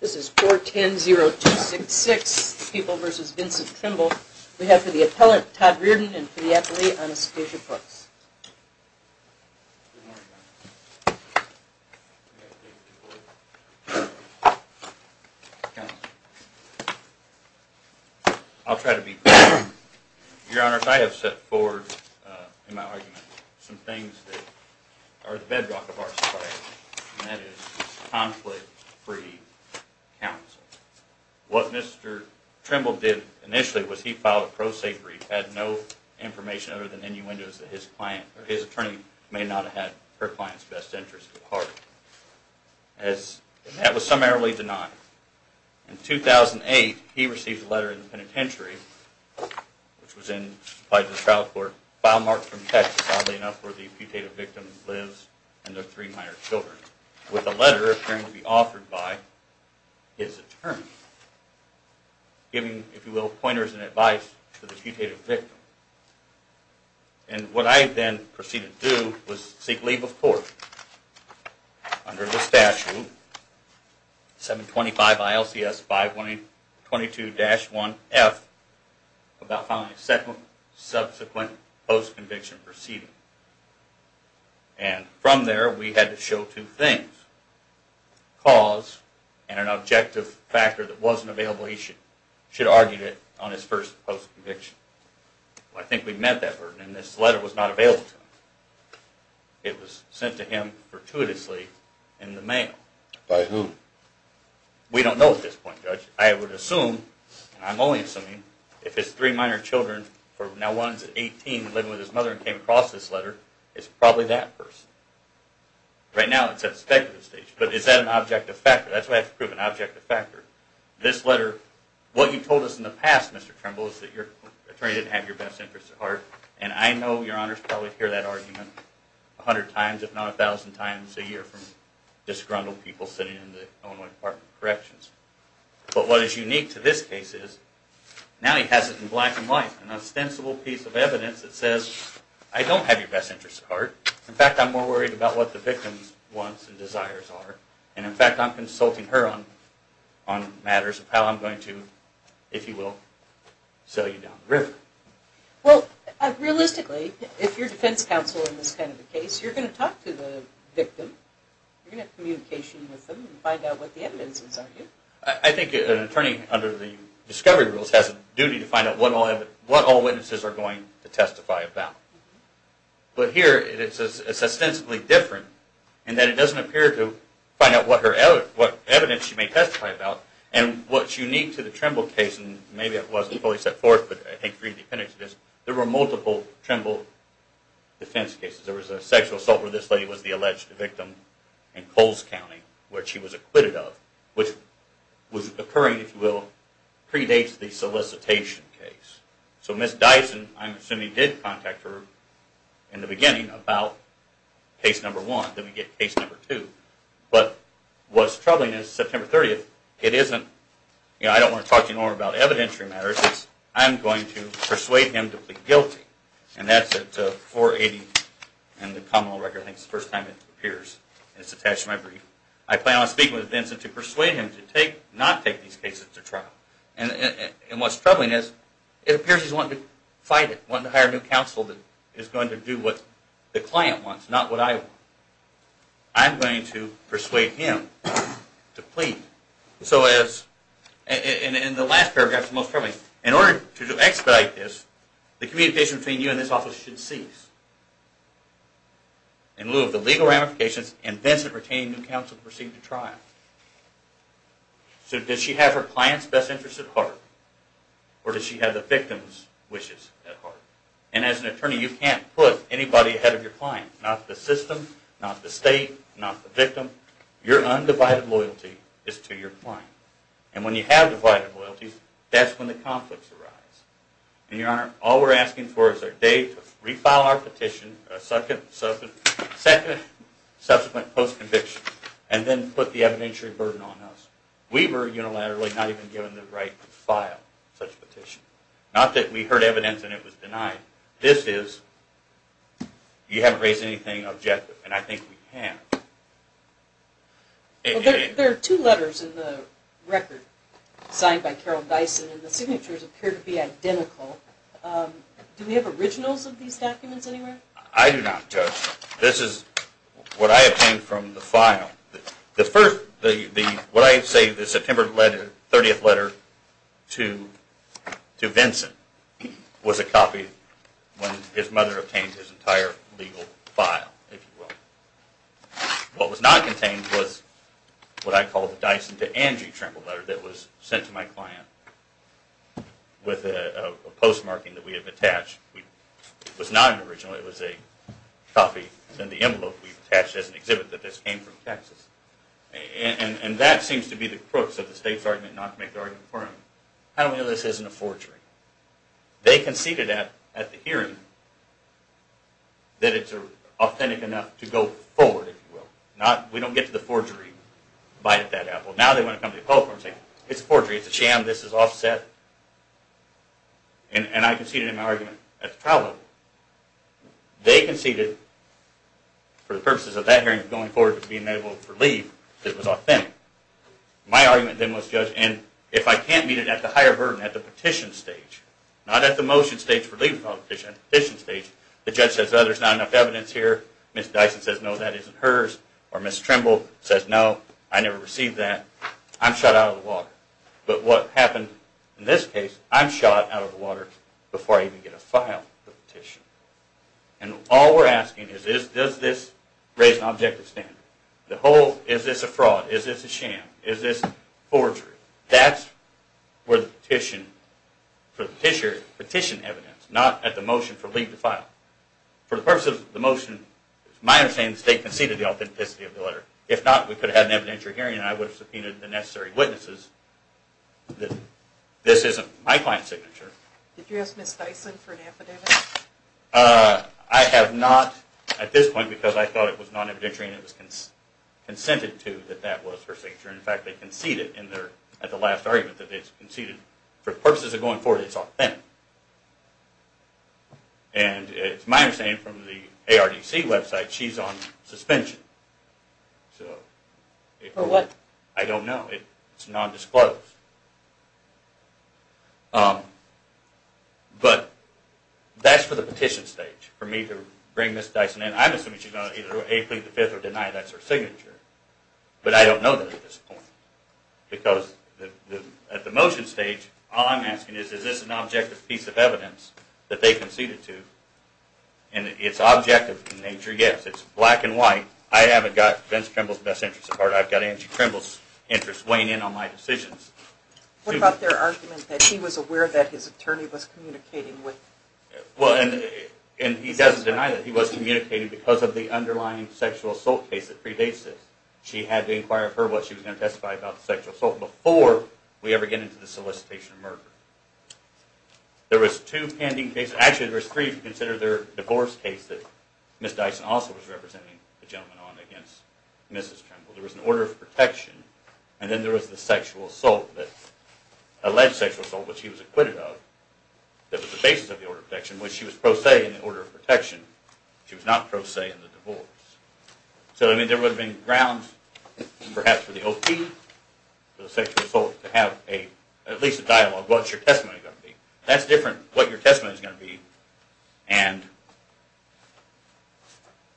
This is 410-0266, People v. Vincent Trimble. We have for the appellant, Todd Reardon, and for the athlete, Anastasia Fox. Good morning, Your Honor. I'll try to be brief. Your Honor, I have set forward in my argument some things that are the bedrock of our society, and that is conflict-free counsel. What Mr. Trimble did initially was he filed a pro se brief, had no information other than innuendos that his client, or his attorney, may not have had her client's best interest at heart. That was summarily denied. In 2008, he received a letter in the penitentiary, which was supplied to the trial court, a file marked from Texas, oddly enough, where the putative victim lives and their three minor children, with a letter appearing to be authored by his attorney, giving, if you will, pointers and advice to the putative victim. And what I then proceeded to do was seek leave of court under the statute, 725 ILCS 522-1F, about filing a subsequent post-conviction proceeding. And from there, we had to show two things. Cause, and an objective factor that wasn't available, he should have argued it on his first post-conviction. I think we met that burden, and this letter was not available to him. It was sent to him fortuitously in the mail. By whom? We don't know at this point, Judge. I would assume, and I'm only assuming, if his three minor children, now one's 18, living with his mother and came across this letter, it's probably that person. Right now, it's at the speculative stage. But is that an objective factor? That's what I have to prove, an objective factor. This letter, what you told us in the past, Mr. Trimble, is that your attorney didn't have your best interest at heart. And I know your honors probably hear that argument a hundred times, if not a thousand times a year from disgruntled people sitting in the Illinois Department of Corrections. But what is unique to this case is, now he has it in black and white, an ostensible piece of evidence that says, I don't have your best interest at heart. In fact, I'm more worried about what the victim's wants and desires are. And in fact, I'm consulting her on matters of how I'm going to, if you will, sell you down the river. Well, realistically, if you're defense counsel in this kind of a case, you're going to talk to the victim. You're going to have communication with them and find out what the evidence is, aren't you? I think an attorney under the discovery rules has a duty to find out what all witnesses are going to testify about. But here, it's ostensibly different in that it doesn't appear to find out what evidence she may testify about. And what's unique to the Trimble case, and maybe I wasn't fully set forth, but I think you can read the appendix to this, there were multiple Trimble defense cases. There was a sexual assault where this lady was the alleged victim in Coles County, which she was acquitted of, which was occurring, if you will, predates the solicitation case. So Ms. Dyson, I'm assuming, did contact her in the beginning about case number one. Then we get case number two. But what's troubling is, September 30th, it isn't, you know, I don't want to talk to you no more about evidentiary matters. It's, I'm going to persuade him to plead guilty. And that's at 480 and the common law record, I think it's the first time it appears. It's attached to my brief. I plan on speaking with Vincent to persuade him to take, not take these cases to trial. And what's troubling is, it appears he's wanting to fight it, wanting to hire new counsel that is going to do what the client wants, not what I want. I'm going to persuade him to plead. So as, and the last paragraph is the most troubling. In order to expedite this, the communication between you and this office should cease. In lieu of the legal ramifications, and Vincent retain new counsel to proceed to trial. So does she have her client's best interest at heart? Or does she have the victim's wishes at heart? And as an attorney, you can't put anybody ahead of your client. Not the system, not the state, not the victim. Your undivided loyalty is to your client. And when you have divided loyalties, that's when the conflicts arise. And your honor, all we're asking for is a day to refile our petition, a second subsequent post-conviction. And then put the evidentiary burden on us. We were unilaterally not even given the right to file such a petition. Not that we heard evidence and it was denied. This is, you haven't raised anything objective. And I think we have. There are two letters in the record signed by Carol Dyson and the signatures appear to be identical. Do we have originals of these documents anywhere? I do not, Judge. This is what I obtained from the file. The first, what I say, the September 30th letter to Vincent was a copy when his mother obtained his entire legal file, if you will. What was not contained was what I call the Dyson to Angie tremble letter that was sent to my client with a postmarking that we have attached. It was not an original, it was a copy in the envelope we attached as an exhibit that this came from Texas. And that seems to be the crux of the state's argument not to make the argument for him. How do we know this isn't a forgery? They conceded at the hearing that it's authentic enough to go forward, if you will. We don't get to the forgery, bite that apple. Now they want to come to the public and say, it's a forgery, it's a sham, this is offset. And I conceded in my argument at the trial level. They conceded, for the purposes of that hearing, going forward with being able to leave, that it was authentic. My argument then was, Judge, and if I can't meet it at the higher burden, at the petition stage, not at the motion stage for leaving the petition stage, the judge says there's not enough evidence here, Ms. Dyson says no, that isn't hers, or Ms. Tremble says no, I never received that, I'm shut out of the water. But what happened in this case, I'm shot out of the water before I even get a file for the petition. And all we're asking is, does this raise an objective standard? The whole, is this a fraud, is this a sham, is this forgery? That's where the petition, for the petition evidence, not at the motion for leaving the file. For the purposes of the motion, it's my understanding the state conceded the authenticity of the letter. If not, we could have had an evidentiary hearing and I would have subpoenaed the necessary witnesses that this isn't my client's signature. Did you ask Ms. Dyson for an affidavit? I have not at this point because I thought it was non-evidentiary and it was consented to that that was her signature. In fact, they conceded at the last argument that it's conceded, for the purposes of going forward, it's authentic. And it's my understanding from the ARDC website, she's on suspension. For what? I don't know. It's non-disclosed. But that's for the petition stage, for me to bring Ms. Dyson in. I'm assuming she's going to either plead the fifth or deny that's her signature, but I don't know that at this point. Because at the motion stage, all I'm asking is, is this an objective piece of evidence that they conceded to? And it's objective in nature, yes. It's black and white. I haven't got Vince Krimble's best interests at heart. I've got Angie Krimble's interests weighing in on my decisions. What about their argument that he was aware that his attorney was communicating with... Well, and he doesn't deny that he was communicating because of the underlying sexual assault case that predates this. She had to inquire of her what she was going to testify about the sexual assault before we ever get into the solicitation of murder. There was two pending cases, actually there was three if you consider their divorce case that Ms. Dyson also was representing the gentleman on against Mrs. Krimble. There was an order of protection, and then there was the sexual assault, alleged sexual assault, which she was acquitted of. That was the basis of the order of protection, which she was pro se in the order of protection. She was not pro se in the divorce. So there would have been grounds perhaps for the OP, for the sexual assault, to have at least a dialogue. What's your testimony going to be? That's different, what your testimony is going to be, and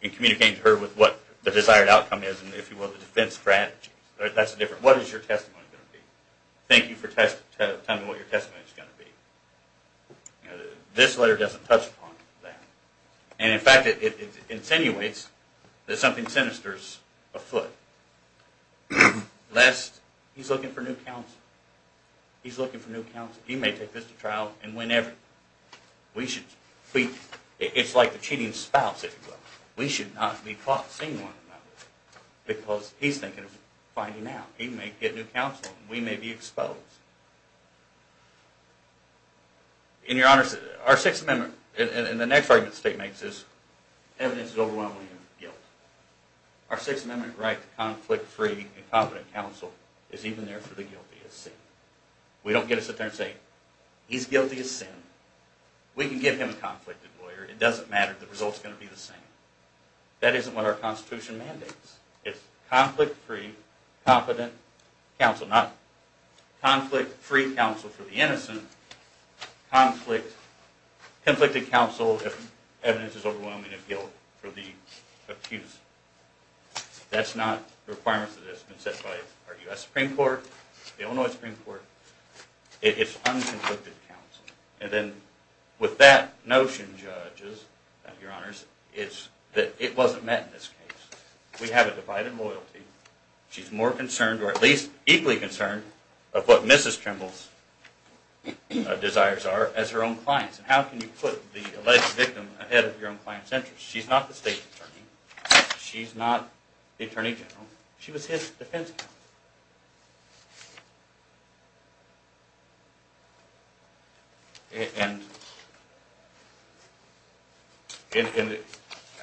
communicating to her what the desired outcome is, and if you will, the defense strategy. That's different. What is your testimony going to be? Thank you for telling me what your testimony is going to be. This letter doesn't touch upon that. In fact, it insinuates that something sinister is afoot. He's looking for new counsel. He's looking for new counsel. He may take this to trial and win everything. It's like the cheating spouse, if you will. We should not be caught seeing one another because he's thinking of finding out. He may get new counsel and we may be exposed. In your honors, our Sixth Amendment, and the next argument the state makes is evidence of overwhelming guilt. Our Sixth Amendment right to conflict-free and competent counsel is even there for the guilty as seen. We don't get us up there and say, he's guilty as seen. We can give him a conflicted lawyer. It doesn't matter. The result's going to be the same. That isn't what our Constitution mandates. It's conflict-free, competent counsel. Not conflict-free counsel for the innocent. Conflicted counsel if evidence is overwhelming of guilt for the accused. That's not a requirement that's been set by our U.S. Supreme Court, the Illinois Supreme Court. It's unconflicted counsel. And then with that notion, judges, your honors, it's that it wasn't met in this case. We have a divided loyalty. She's more concerned, or at least equally concerned, of what Mrs. Trimble's desires are as her own clients. And how can you put the alleged victim ahead of your own client's interests? She's not the state attorney. She's not the attorney general. She was his defense counsel. And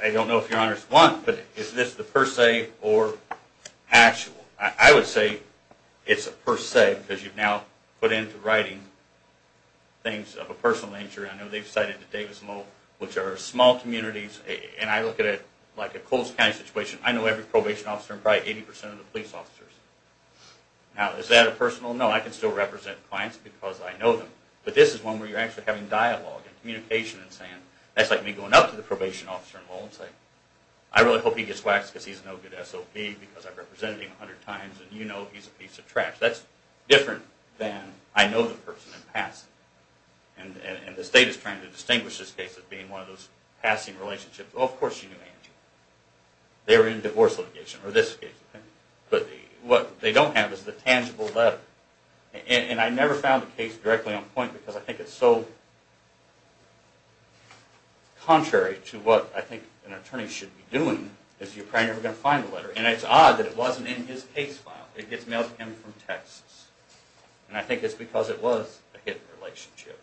I don't know if your honors want, but is this the per se or actual? I would say it's a per se because you've now put into writing things of a personal nature. I know they've cited the Davis Moe, which are small communities. And I look at it like a Coles County situation. I know every probation officer and probably 80% of the police officers. Now, is that a personal? No, I can still represent clients because I know them. But this is one where you're actually having dialogue and communication and saying, that's like me going up to the probation officer in Lowell and saying, I really hope he gets waxed because he's no good SOP because I've represented him 100 times and you know he's a piece of trash. That's different than I know the person in passing. And the state is trying to distinguish this case as being one of those passing relationships. Well, of course she knew Angie. They were in a divorce litigation or this case. But what they don't have is the tangible letter. And I never found the case directly on point because I think it's so contrary to what I think an attorney should be doing is you're probably never going to find the letter. And it's odd that it wasn't in his case file. It gets mailed to him from Texas. And I think it's because it was a hidden relationship,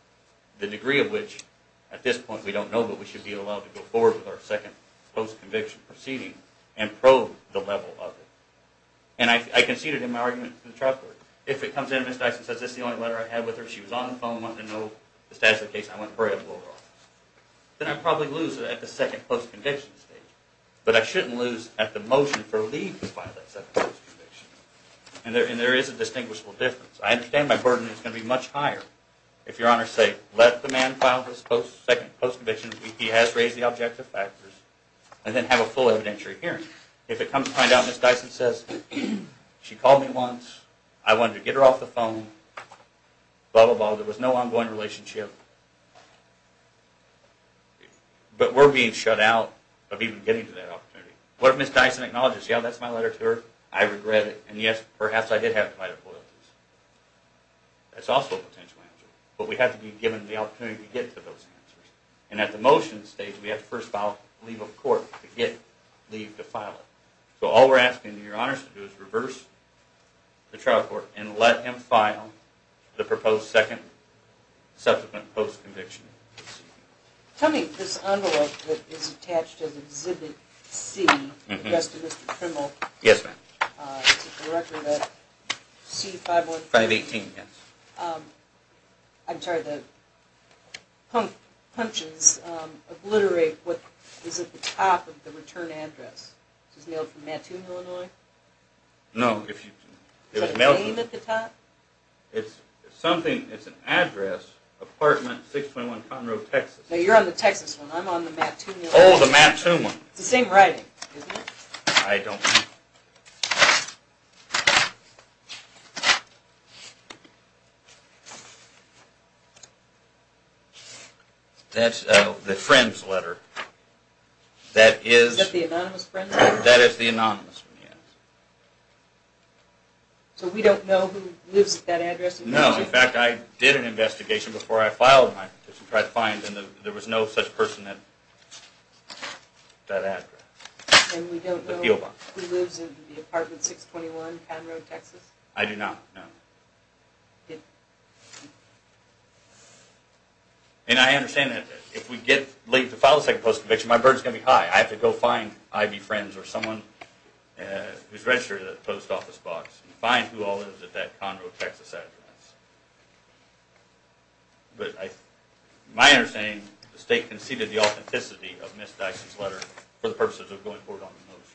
the degree of which at this point we don't know, but we should be allowed to go forward with our second post-conviction proceeding and probe the level of it. And I conceded in my argument in the trial court, if it comes in and Ms. Dyson says this is the only letter I had with her, she was on the phone, wanted to know the status of the case, and I went right up to her office, then I'd probably lose it at the second post-conviction stage. But I shouldn't lose at the motion for leave to file that second post-conviction. And there is a distinguishable difference. I understand my burden is going to be much higher if your honors say let the man file his second post-conviction, he has raised the objective factors, and then have a full evidentiary hearing. If it comes to find out Ms. Dyson says she called me once, I wanted to get her off the phone, blah, blah, blah, there was no ongoing relationship, but we're being shut out of even getting to that opportunity. What if Ms. Dyson acknowledges, yeah, that's my letter to her, I regret it, and yes, perhaps I did have to write a plea. That's also a potential answer. But we have to be given the opportunity to get to those answers. And at the motion stage, we have to first file leave of court to get leave to file it. So all we're asking your honors to do is reverse the trial court and let him file the proposed second subsequent post-conviction. Tell me, this envelope that is attached as Exhibit C, addressed to Mr. Trimble, Yes, ma'am. Is it the record of that C515? 518, yes. I'm sorry, the punches obliterate what is at the top of the return address. Is this mailed from Mattoon, Illinois? No. Is that a name at the top? It's something, it's an address, apartment 621 Conroe, Texas. No, you're on the Texas one, I'm on the Mattoon one. Oh, the Mattoon one. It's the same writing, isn't it? I don't know. That's the friend's letter. Is that the anonymous friend's letter? That is the anonymous one, yes. So we don't know who lives at that address? No, in fact, I did an investigation before I filed my petition and there was no such person at that address. And we don't know who lives in the apartment 621 Conroe, Texas? I do not, no. And I understand that if we get late to file a second post conviction, my burden's going to be high. I have to go find Ivy Friends or someone who's registered at the post office box and find who all lives at that Conroe, Texas address. But my understanding is the state conceded the authenticity of Ms. Dyson's letter for the purposes of going forward on the motion,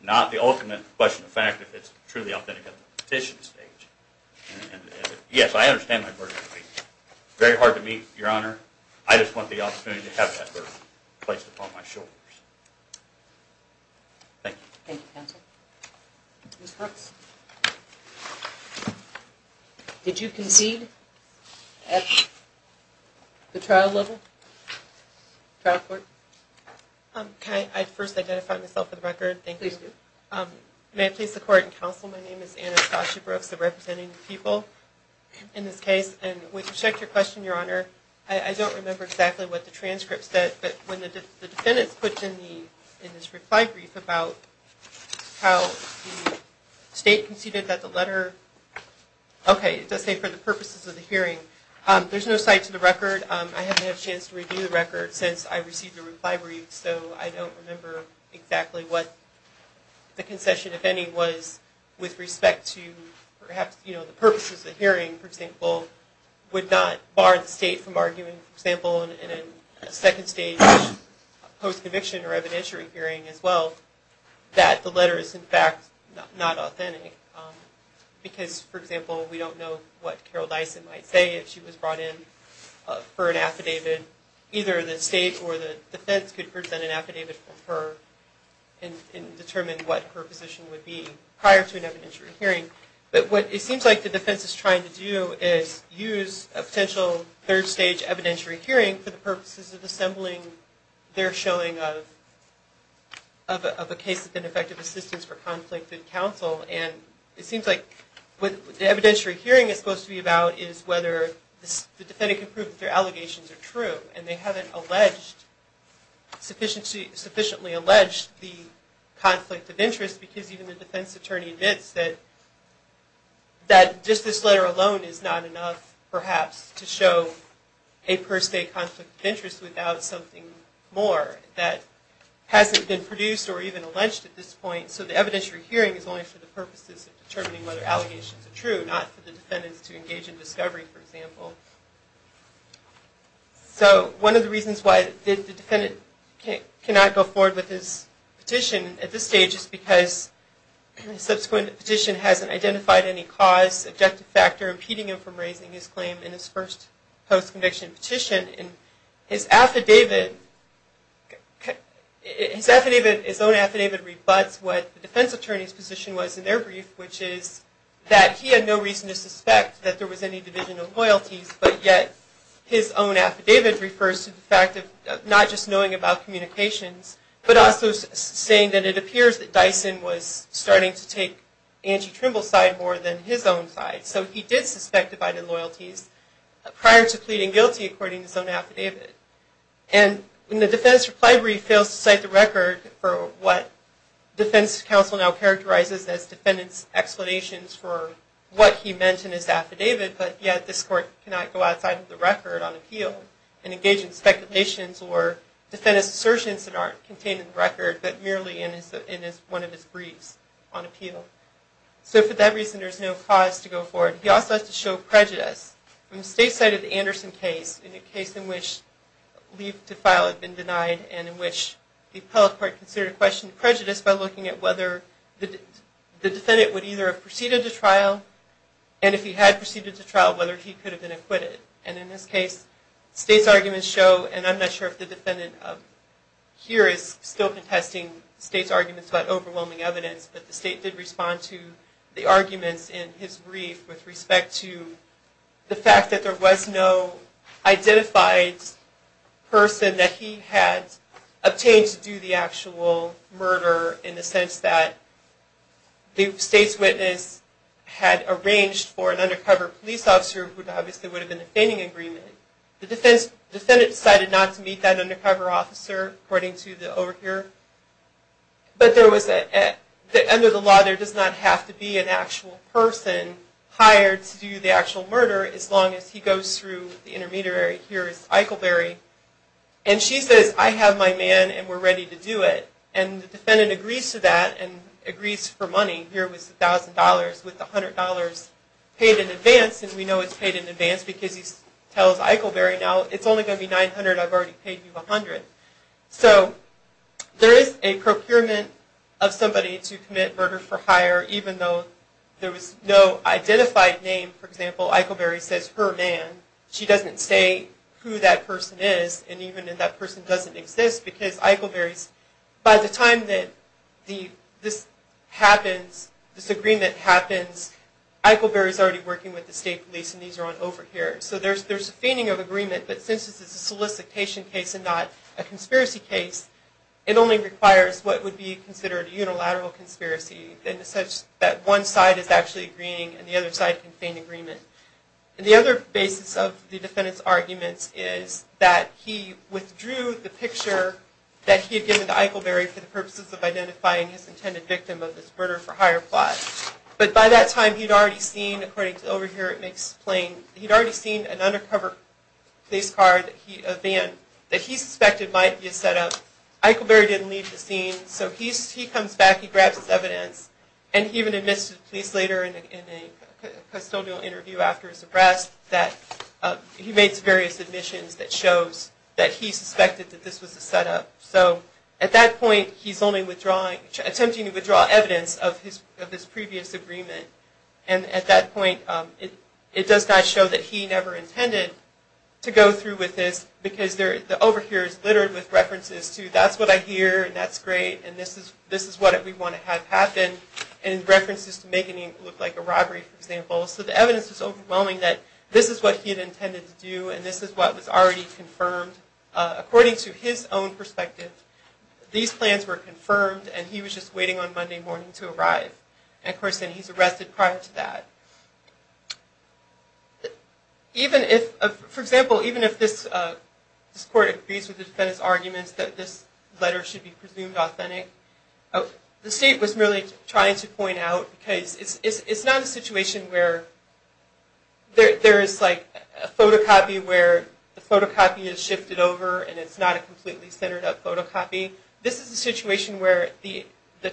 not the ultimate question of fact if it's truly authentic at the petition stage. Yes, I understand my burden. It's very hard to meet, Your Honor. I just want the opportunity to have that burden placed upon my shoulders. Thank you. Thank you, counsel. Ms. Brooks? Did you concede at the trial level? Trial court? Can I first identify myself for the record? Please do. May I please the court and counsel, my name is Anna Scotchy Brooks. I'm representing the people in this case. And with respect to your question, Your Honor, I don't remember exactly what the transcript said, but when the defendants put in this reply brief about how the state conceded that the letter, okay, it does say for the purposes of the hearing. There's no cite to the record. I haven't had a chance to review the record since I received the reply brief, so I don't remember exactly what the concession, if any, was with respect to perhaps the purposes of the hearing, for example, would not bar the state from arguing, for example, in a second stage post-conviction or evidentiary hearing as well, that the letter is, in fact, not authentic. Because, for example, we don't know what Carol Dyson might say if she was brought in for an affidavit. Either the state or the defense could present an affidavit for her and determine what her position would be prior to an evidentiary hearing. But what it seems like the defense is trying to do is use a potential third stage evidentiary hearing for the purposes of assembling their showing of a case of ineffective assistance for conflicted counsel. And it seems like what the evidentiary hearing is supposed to be about is whether the defendant can prove that their allegations are true. And they haven't alleged, sufficiently alleged, the conflict of interest because even the defense attorney admits that just this letter alone is not enough, perhaps, to show a per se conflict of interest without something more that hasn't been produced or even alleged at this point. So the evidentiary hearing is only for the purposes of determining whether allegations are true, not for the defendants to engage in discovery, for example. So one of the reasons why the defendant cannot go forward with his petition at this stage is just because the subsequent petition hasn't identified any cause, objective factor, impeding him from raising his claim in his first post-conviction petition. And his affidavit, his own affidavit, rebutts what the defense attorney's position was in their brief, which is that he had no reason to suspect that there was any division of loyalties, but yet his own affidavit refers to the fact of not just knowing about communications, but also saying that it appears that Dyson was starting to take Angie Trimble's side more than his own side. So he did suspect divided loyalties prior to pleading guilty, according to his own affidavit. And when the defense reply brief fails to cite the record for what defense counsel now characterizes as defendant's explanations for what he meant in his affidavit, but yet this court cannot go outside of the record on appeal and engage in speculations or defend his assertions that aren't contained in the record, but merely in one of his briefs on appeal. So for that reason, there's no cause to go forward. He also has to show prejudice. When the state cited the Anderson case, in a case in which leave to file had been denied and in which the appellate court considered a question of prejudice by looking at whether the defendant would either have proceeded to trial, and if he had proceeded to trial, whether he could have been acquitted. And in this case, state's arguments show, and I'm not sure if the defendant here is still contesting state's arguments about overwhelming evidence, but the state did respond to the arguments in his brief with respect to the fact that there was no identified person that he had obtained to do the actual murder, in the sense that the state's witness had arranged for an undercover police officer, who obviously would have been a feigning agreement. The defendant decided not to meet that undercover officer, according to the overhear. But there was, under the law, there does not have to be an actual person hired to do the actual murder as long as he goes through the intermediary. Here is Eichelberry. And she says, I have my man and we're ready to do it. And the defendant agrees to that and agrees for money. Here was $1,000 with $100 paid in advance. And we know it's paid in advance because he tells Eichelberry, now it's only going to be $900, I've already paid you $100. So there is a procurement of somebody to commit murder for hire, even though there was no identified name. For example, Eichelberry says, her man. She doesn't say who that person is, and even if that person doesn't exist, because Eichelberry's, by the time that this agreement happens, Eichelberry's already working with the state police and these are on overhear. So there's a feigning of agreement, but since this is a solicitation case and not a conspiracy case, it only requires what would be considered a unilateral conspiracy, in such that one side is actually agreeing and the other side can feign agreement. And the other basis of the defendant's arguments is that he withdrew the picture that he had given to Eichelberry for the purposes of identifying his intended victim of this murder for hire plot. But by that time, he'd already seen, according to overhear, he'd already seen an undercover police car, a van, that he suspected might be a setup. Eichelberry didn't leave the scene, so he comes back, he grabs his evidence, and he even admits to the police later in a custodial interview after his arrest that he makes various admissions that shows that he suspected that this was a setup. So at that point, he's only attempting to withdraw evidence of his previous agreement. And at that point, it does not show that he never intended to go through with this, because the overhear is littered with references to, that's what I hear, and that's great, and this is what we want to have happen, and references to making it look like a robbery, for example. So the evidence is overwhelming that this is what he had intended to do, and this is what was already confirmed. According to his own perspective, these plans were confirmed, and he was just waiting on Monday morning to arrive. And of course, he's arrested prior to that. For example, even if this court agrees with the defendant's arguments that this letter should be presumed authentic, the state was merely trying to point out, because it's not a situation where there is a photocopy where the photocopy is shifted over, and it's not a completely centered up photocopy. This is a situation where the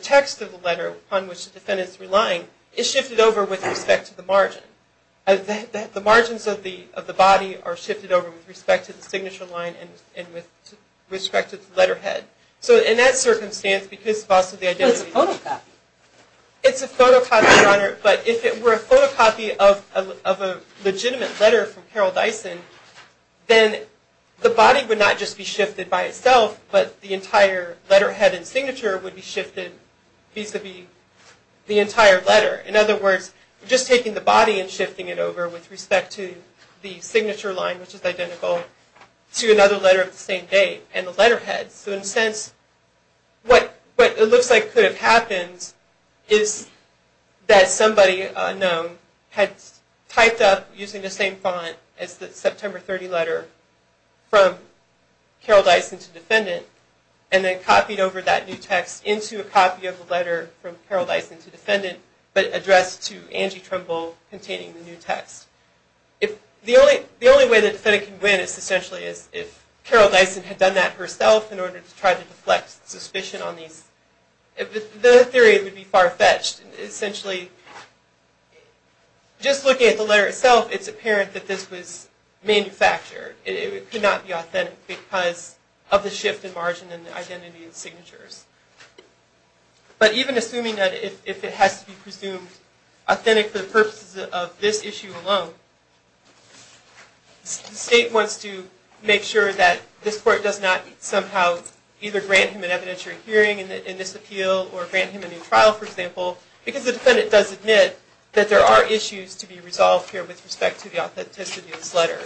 text of the letter upon which the defendant is relying is shifted over with respect to the margin. The margins of the body are shifted over with respect to the signature line and with respect to the letterhead. So in that circumstance, because of the identity... But it's a photocopy. It's a photocopy, Your Honor, but if it were a photocopy of a legitimate letter from Carol Dyson, then the body would not just be shifted by itself, but the entire letterhead and signature would be shifted vis-a-vis the entire letter. In other words, just taking the body and shifting it over with respect to the signature line, which is identical, to another letter of the same date and the letterhead. So in a sense, what it looks like could have happened is that somebody unknown had typed up using the same font as the September 30 letter from Carol Dyson to defendant, and then copied over that new text into a copy of the letter from Carol Dyson to defendant, but addressed to Angie Trumbull containing the new text. The only way the defendant can win is essentially if Carol Dyson had done that herself in order to try to deflect suspicion on these... The theory would be far-fetched. Essentially, just looking at the letter itself, it's apparent that this was manufactured. It could not be authentic because of the shift in margin in the identity and signatures. But even assuming that if it has to be presumed authentic for the purposes of this issue alone, the state wants to make sure that this court does not somehow either grant him an evidentiary hearing in this appeal or grant him a new trial, for example, because the defendant does admit that there are issues to be resolved here with respect to the authenticity of this letter.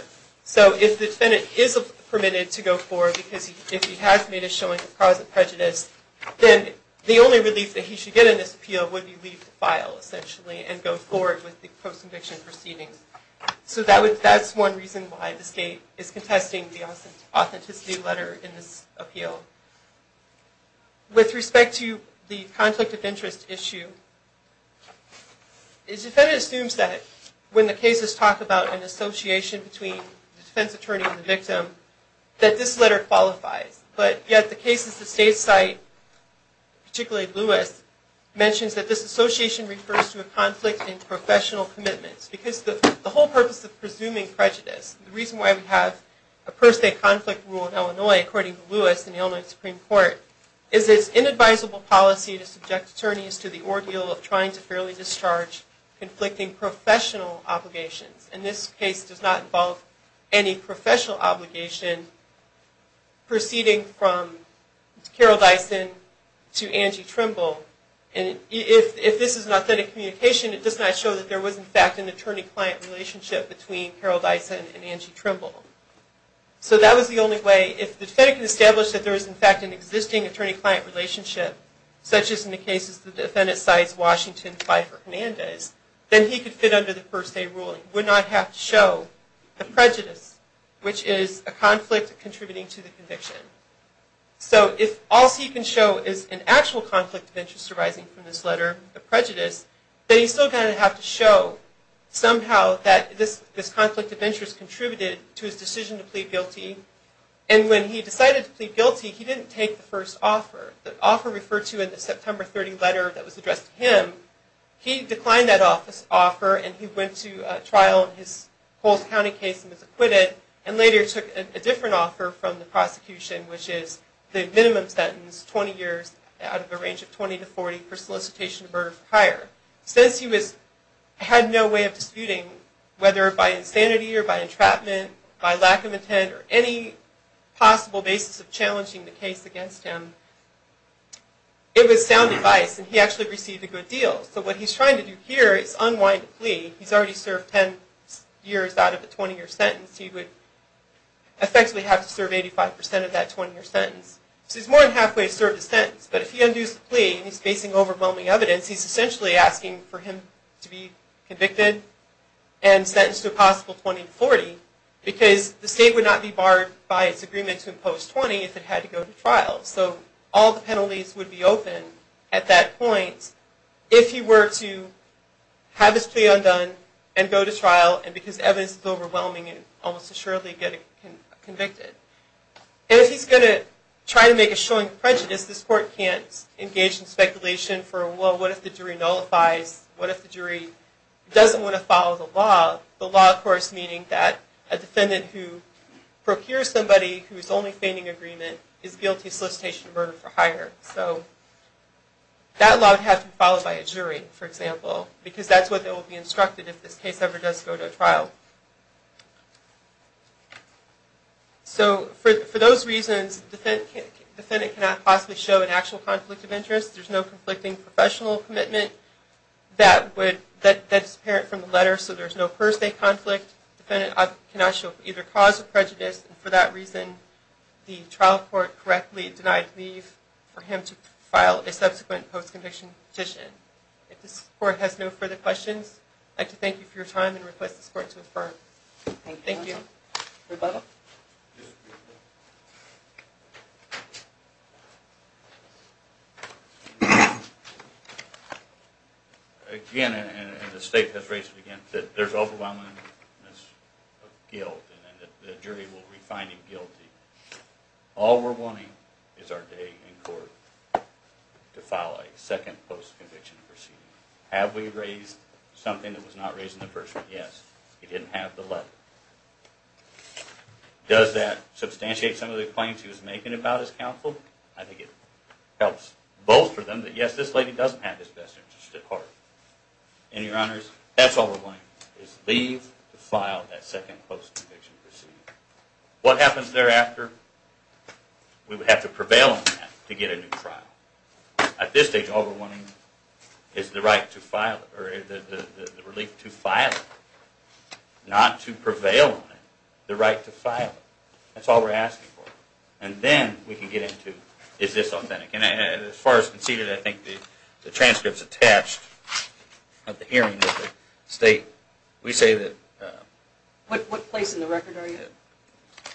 So if the defendant is permitted to go forward because he has made a showing of cause of prejudice, then the only relief that he should get in this appeal would be to leave the file, essentially, and go forward with the post-conviction proceedings. So that's one reason why the state is contesting the authenticity letter in this appeal. With respect to the conflict of interest issue, the defendant assumes that when the cases talk about an association between the defense attorney and the victim, that this letter qualifies. But yet the cases the state cite, particularly Lewis, mentions that this association refers to a conflict in professional commitments. Because the whole purpose of presuming prejudice, the reason why we have a per se conflict rule in Illinois, according to Lewis in the Illinois Supreme Court, is it's inadvisable policy to subject attorneys to the ordeal of trying to fairly discharge conflicting professional obligations. And this case does not involve any professional obligation proceeding from Carol Dyson to Angie Trimble. And if this is an authentic communication, it does not show that there was, in fact, an attorney-client relationship between Carol Dyson and Angie Trimble. So that was the only way. If the defendant can establish that there is, in fact, an existing attorney-client relationship, such as in the cases the defendant cites Washington, Pfeiffer, Hernandez, then he could fit under the per se ruling. He would not have to show a prejudice, which is a conflict contributing to the conviction. So if all he can show is an actual conflict of interest arising from this letter, a prejudice, then he's still going to have to show somehow that this conflict of interest contributed to his decision to plead guilty. And when he decided to plead guilty, he didn't take the first offer. The offer referred to in the September 30 letter that was addressed to him, he declined that offer and he went to trial in his Coles County case and was acquitted, which is the minimum sentence, 20 years out of a range of 20 to 40, for solicitation of murder for hire. Since he had no way of disputing whether by insanity or by entrapment, by lack of intent, or any possible basis of challenging the case against him, it was sound advice and he actually received a good deal. So what he's trying to do here is unwind a plea. He's already served 10 years out of a 20-year sentence. He would effectively have to serve 85% of that 20-year sentence. So he's more than halfway served his sentence, but if he undoes the plea and he's facing overwhelming evidence, he's essentially asking for him to be convicted and sentenced to a possible 20 to 40, because the state would not be barred by its agreement to impose 20 if it had to go to trial. So all the penalties would be open at that point if he were to have his plea undone and go to trial, and because evidence is overwhelming, he would almost assuredly get convicted. And if he's going to try to make a showing of prejudice, this court can't engage in speculation for, well, what if the jury nullifies? What if the jury doesn't want to follow the law? The law, of course, meaning that a defendant who procures somebody who is only feigning agreement is guilty of solicitation of murder for hire. So that law would have to be followed by a jury, for example, because that's what they will be instructed if this case ever does go to trial. So for those reasons, the defendant cannot possibly show an actual conflict of interest. There's no conflicting professional commitment that's apparent from the letter, so there's no per se conflict. The defendant cannot show either cause of prejudice, and for that reason, the trial court correctly denied leave for him to file a subsequent post-conviction petition. If this court has no further questions, I'd like to thank you for your time and request this court to affirm. Thank you. Rebuttal. Again, and the state has raised it again, that there's overwhelming guilt, and that the jury will refine him guilty. All we're wanting is our day in court to file a second post-conviction proceeding. Have we raised something that was not raised in the first one? Yes. He didn't have the letter. Does that substantiate some of the claims he was making about his counsel? I think it helps bolster them that, yes, this lady doesn't have this vested interest at heart. And, Your Honors, that's all we're wanting, is leave to file that second post-conviction proceeding. What happens thereafter? We would have to prevail on that to get a new trial. At this stage, all we're wanting is the right to file it, or the relief to file it, not to prevail on it, the right to file it. That's all we're asking for. And then we can get into, is this authentic? And as far as conceded, I think the transcripts attached of the hearing with the state, we say that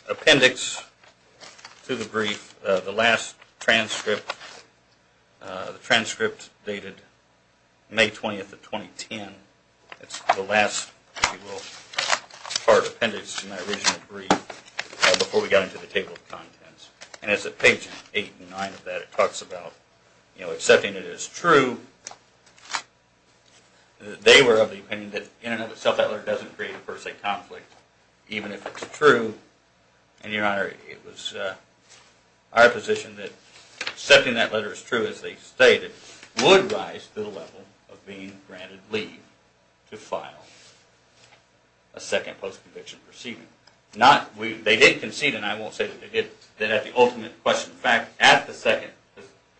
appendix to the brief, the last transcript. The transcript dated May 20th of 2010. It's the last, if you will, part, appendix to my original brief before we got into the table of contents. And it's at page 8 and 9 of that. It talks about accepting it as true. They were of the opinion that in and of itself that letter doesn't create a per se conflict, even if it's true. And, Your Honor, it was our position that accepting that letter as true as they stated would rise to the level of being granted leave to file a second post-conviction proceeding. They did concede, and I won't say that they did, that at the ultimate question of fact, at the second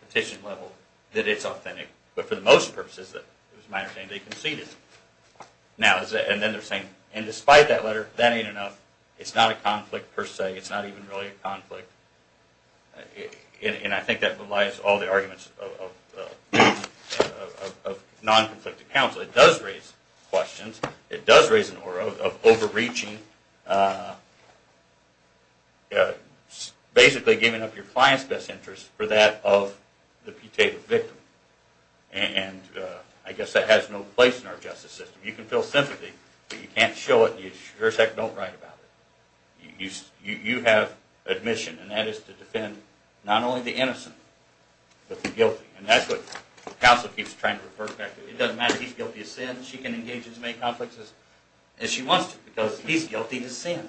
petition level, that it's authentic. But for the most purposes, it was a matter of saying they conceded. And then they're saying, and despite that letter, that ain't enough. It's not a conflict per se. It's not even really a conflict. And I think that belies all the arguments of non-conflicted counsel. It does raise questions. It does raise an aura of overreaching, basically giving up your client's best interest for that of the putative victim. And I guess that has no place in our justice system. You can feel sympathy, but you can't show it, and you sure as heck don't write about it. You have admission, and that is to defend not only the innocent, but the guilty. And that's what counsel keeps trying to refer back to. It doesn't matter if he's guilty of sin. She can engage in as many conflicts as she wants to, because he's guilty of sin.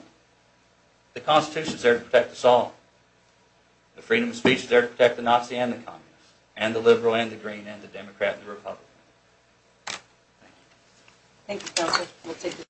The Constitution's there to protect us all. The freedom of speech is there to protect the Nazi and the communists, and the liberal and the green and the Democrat and the Republican. Thank you. Thank you, Counsel.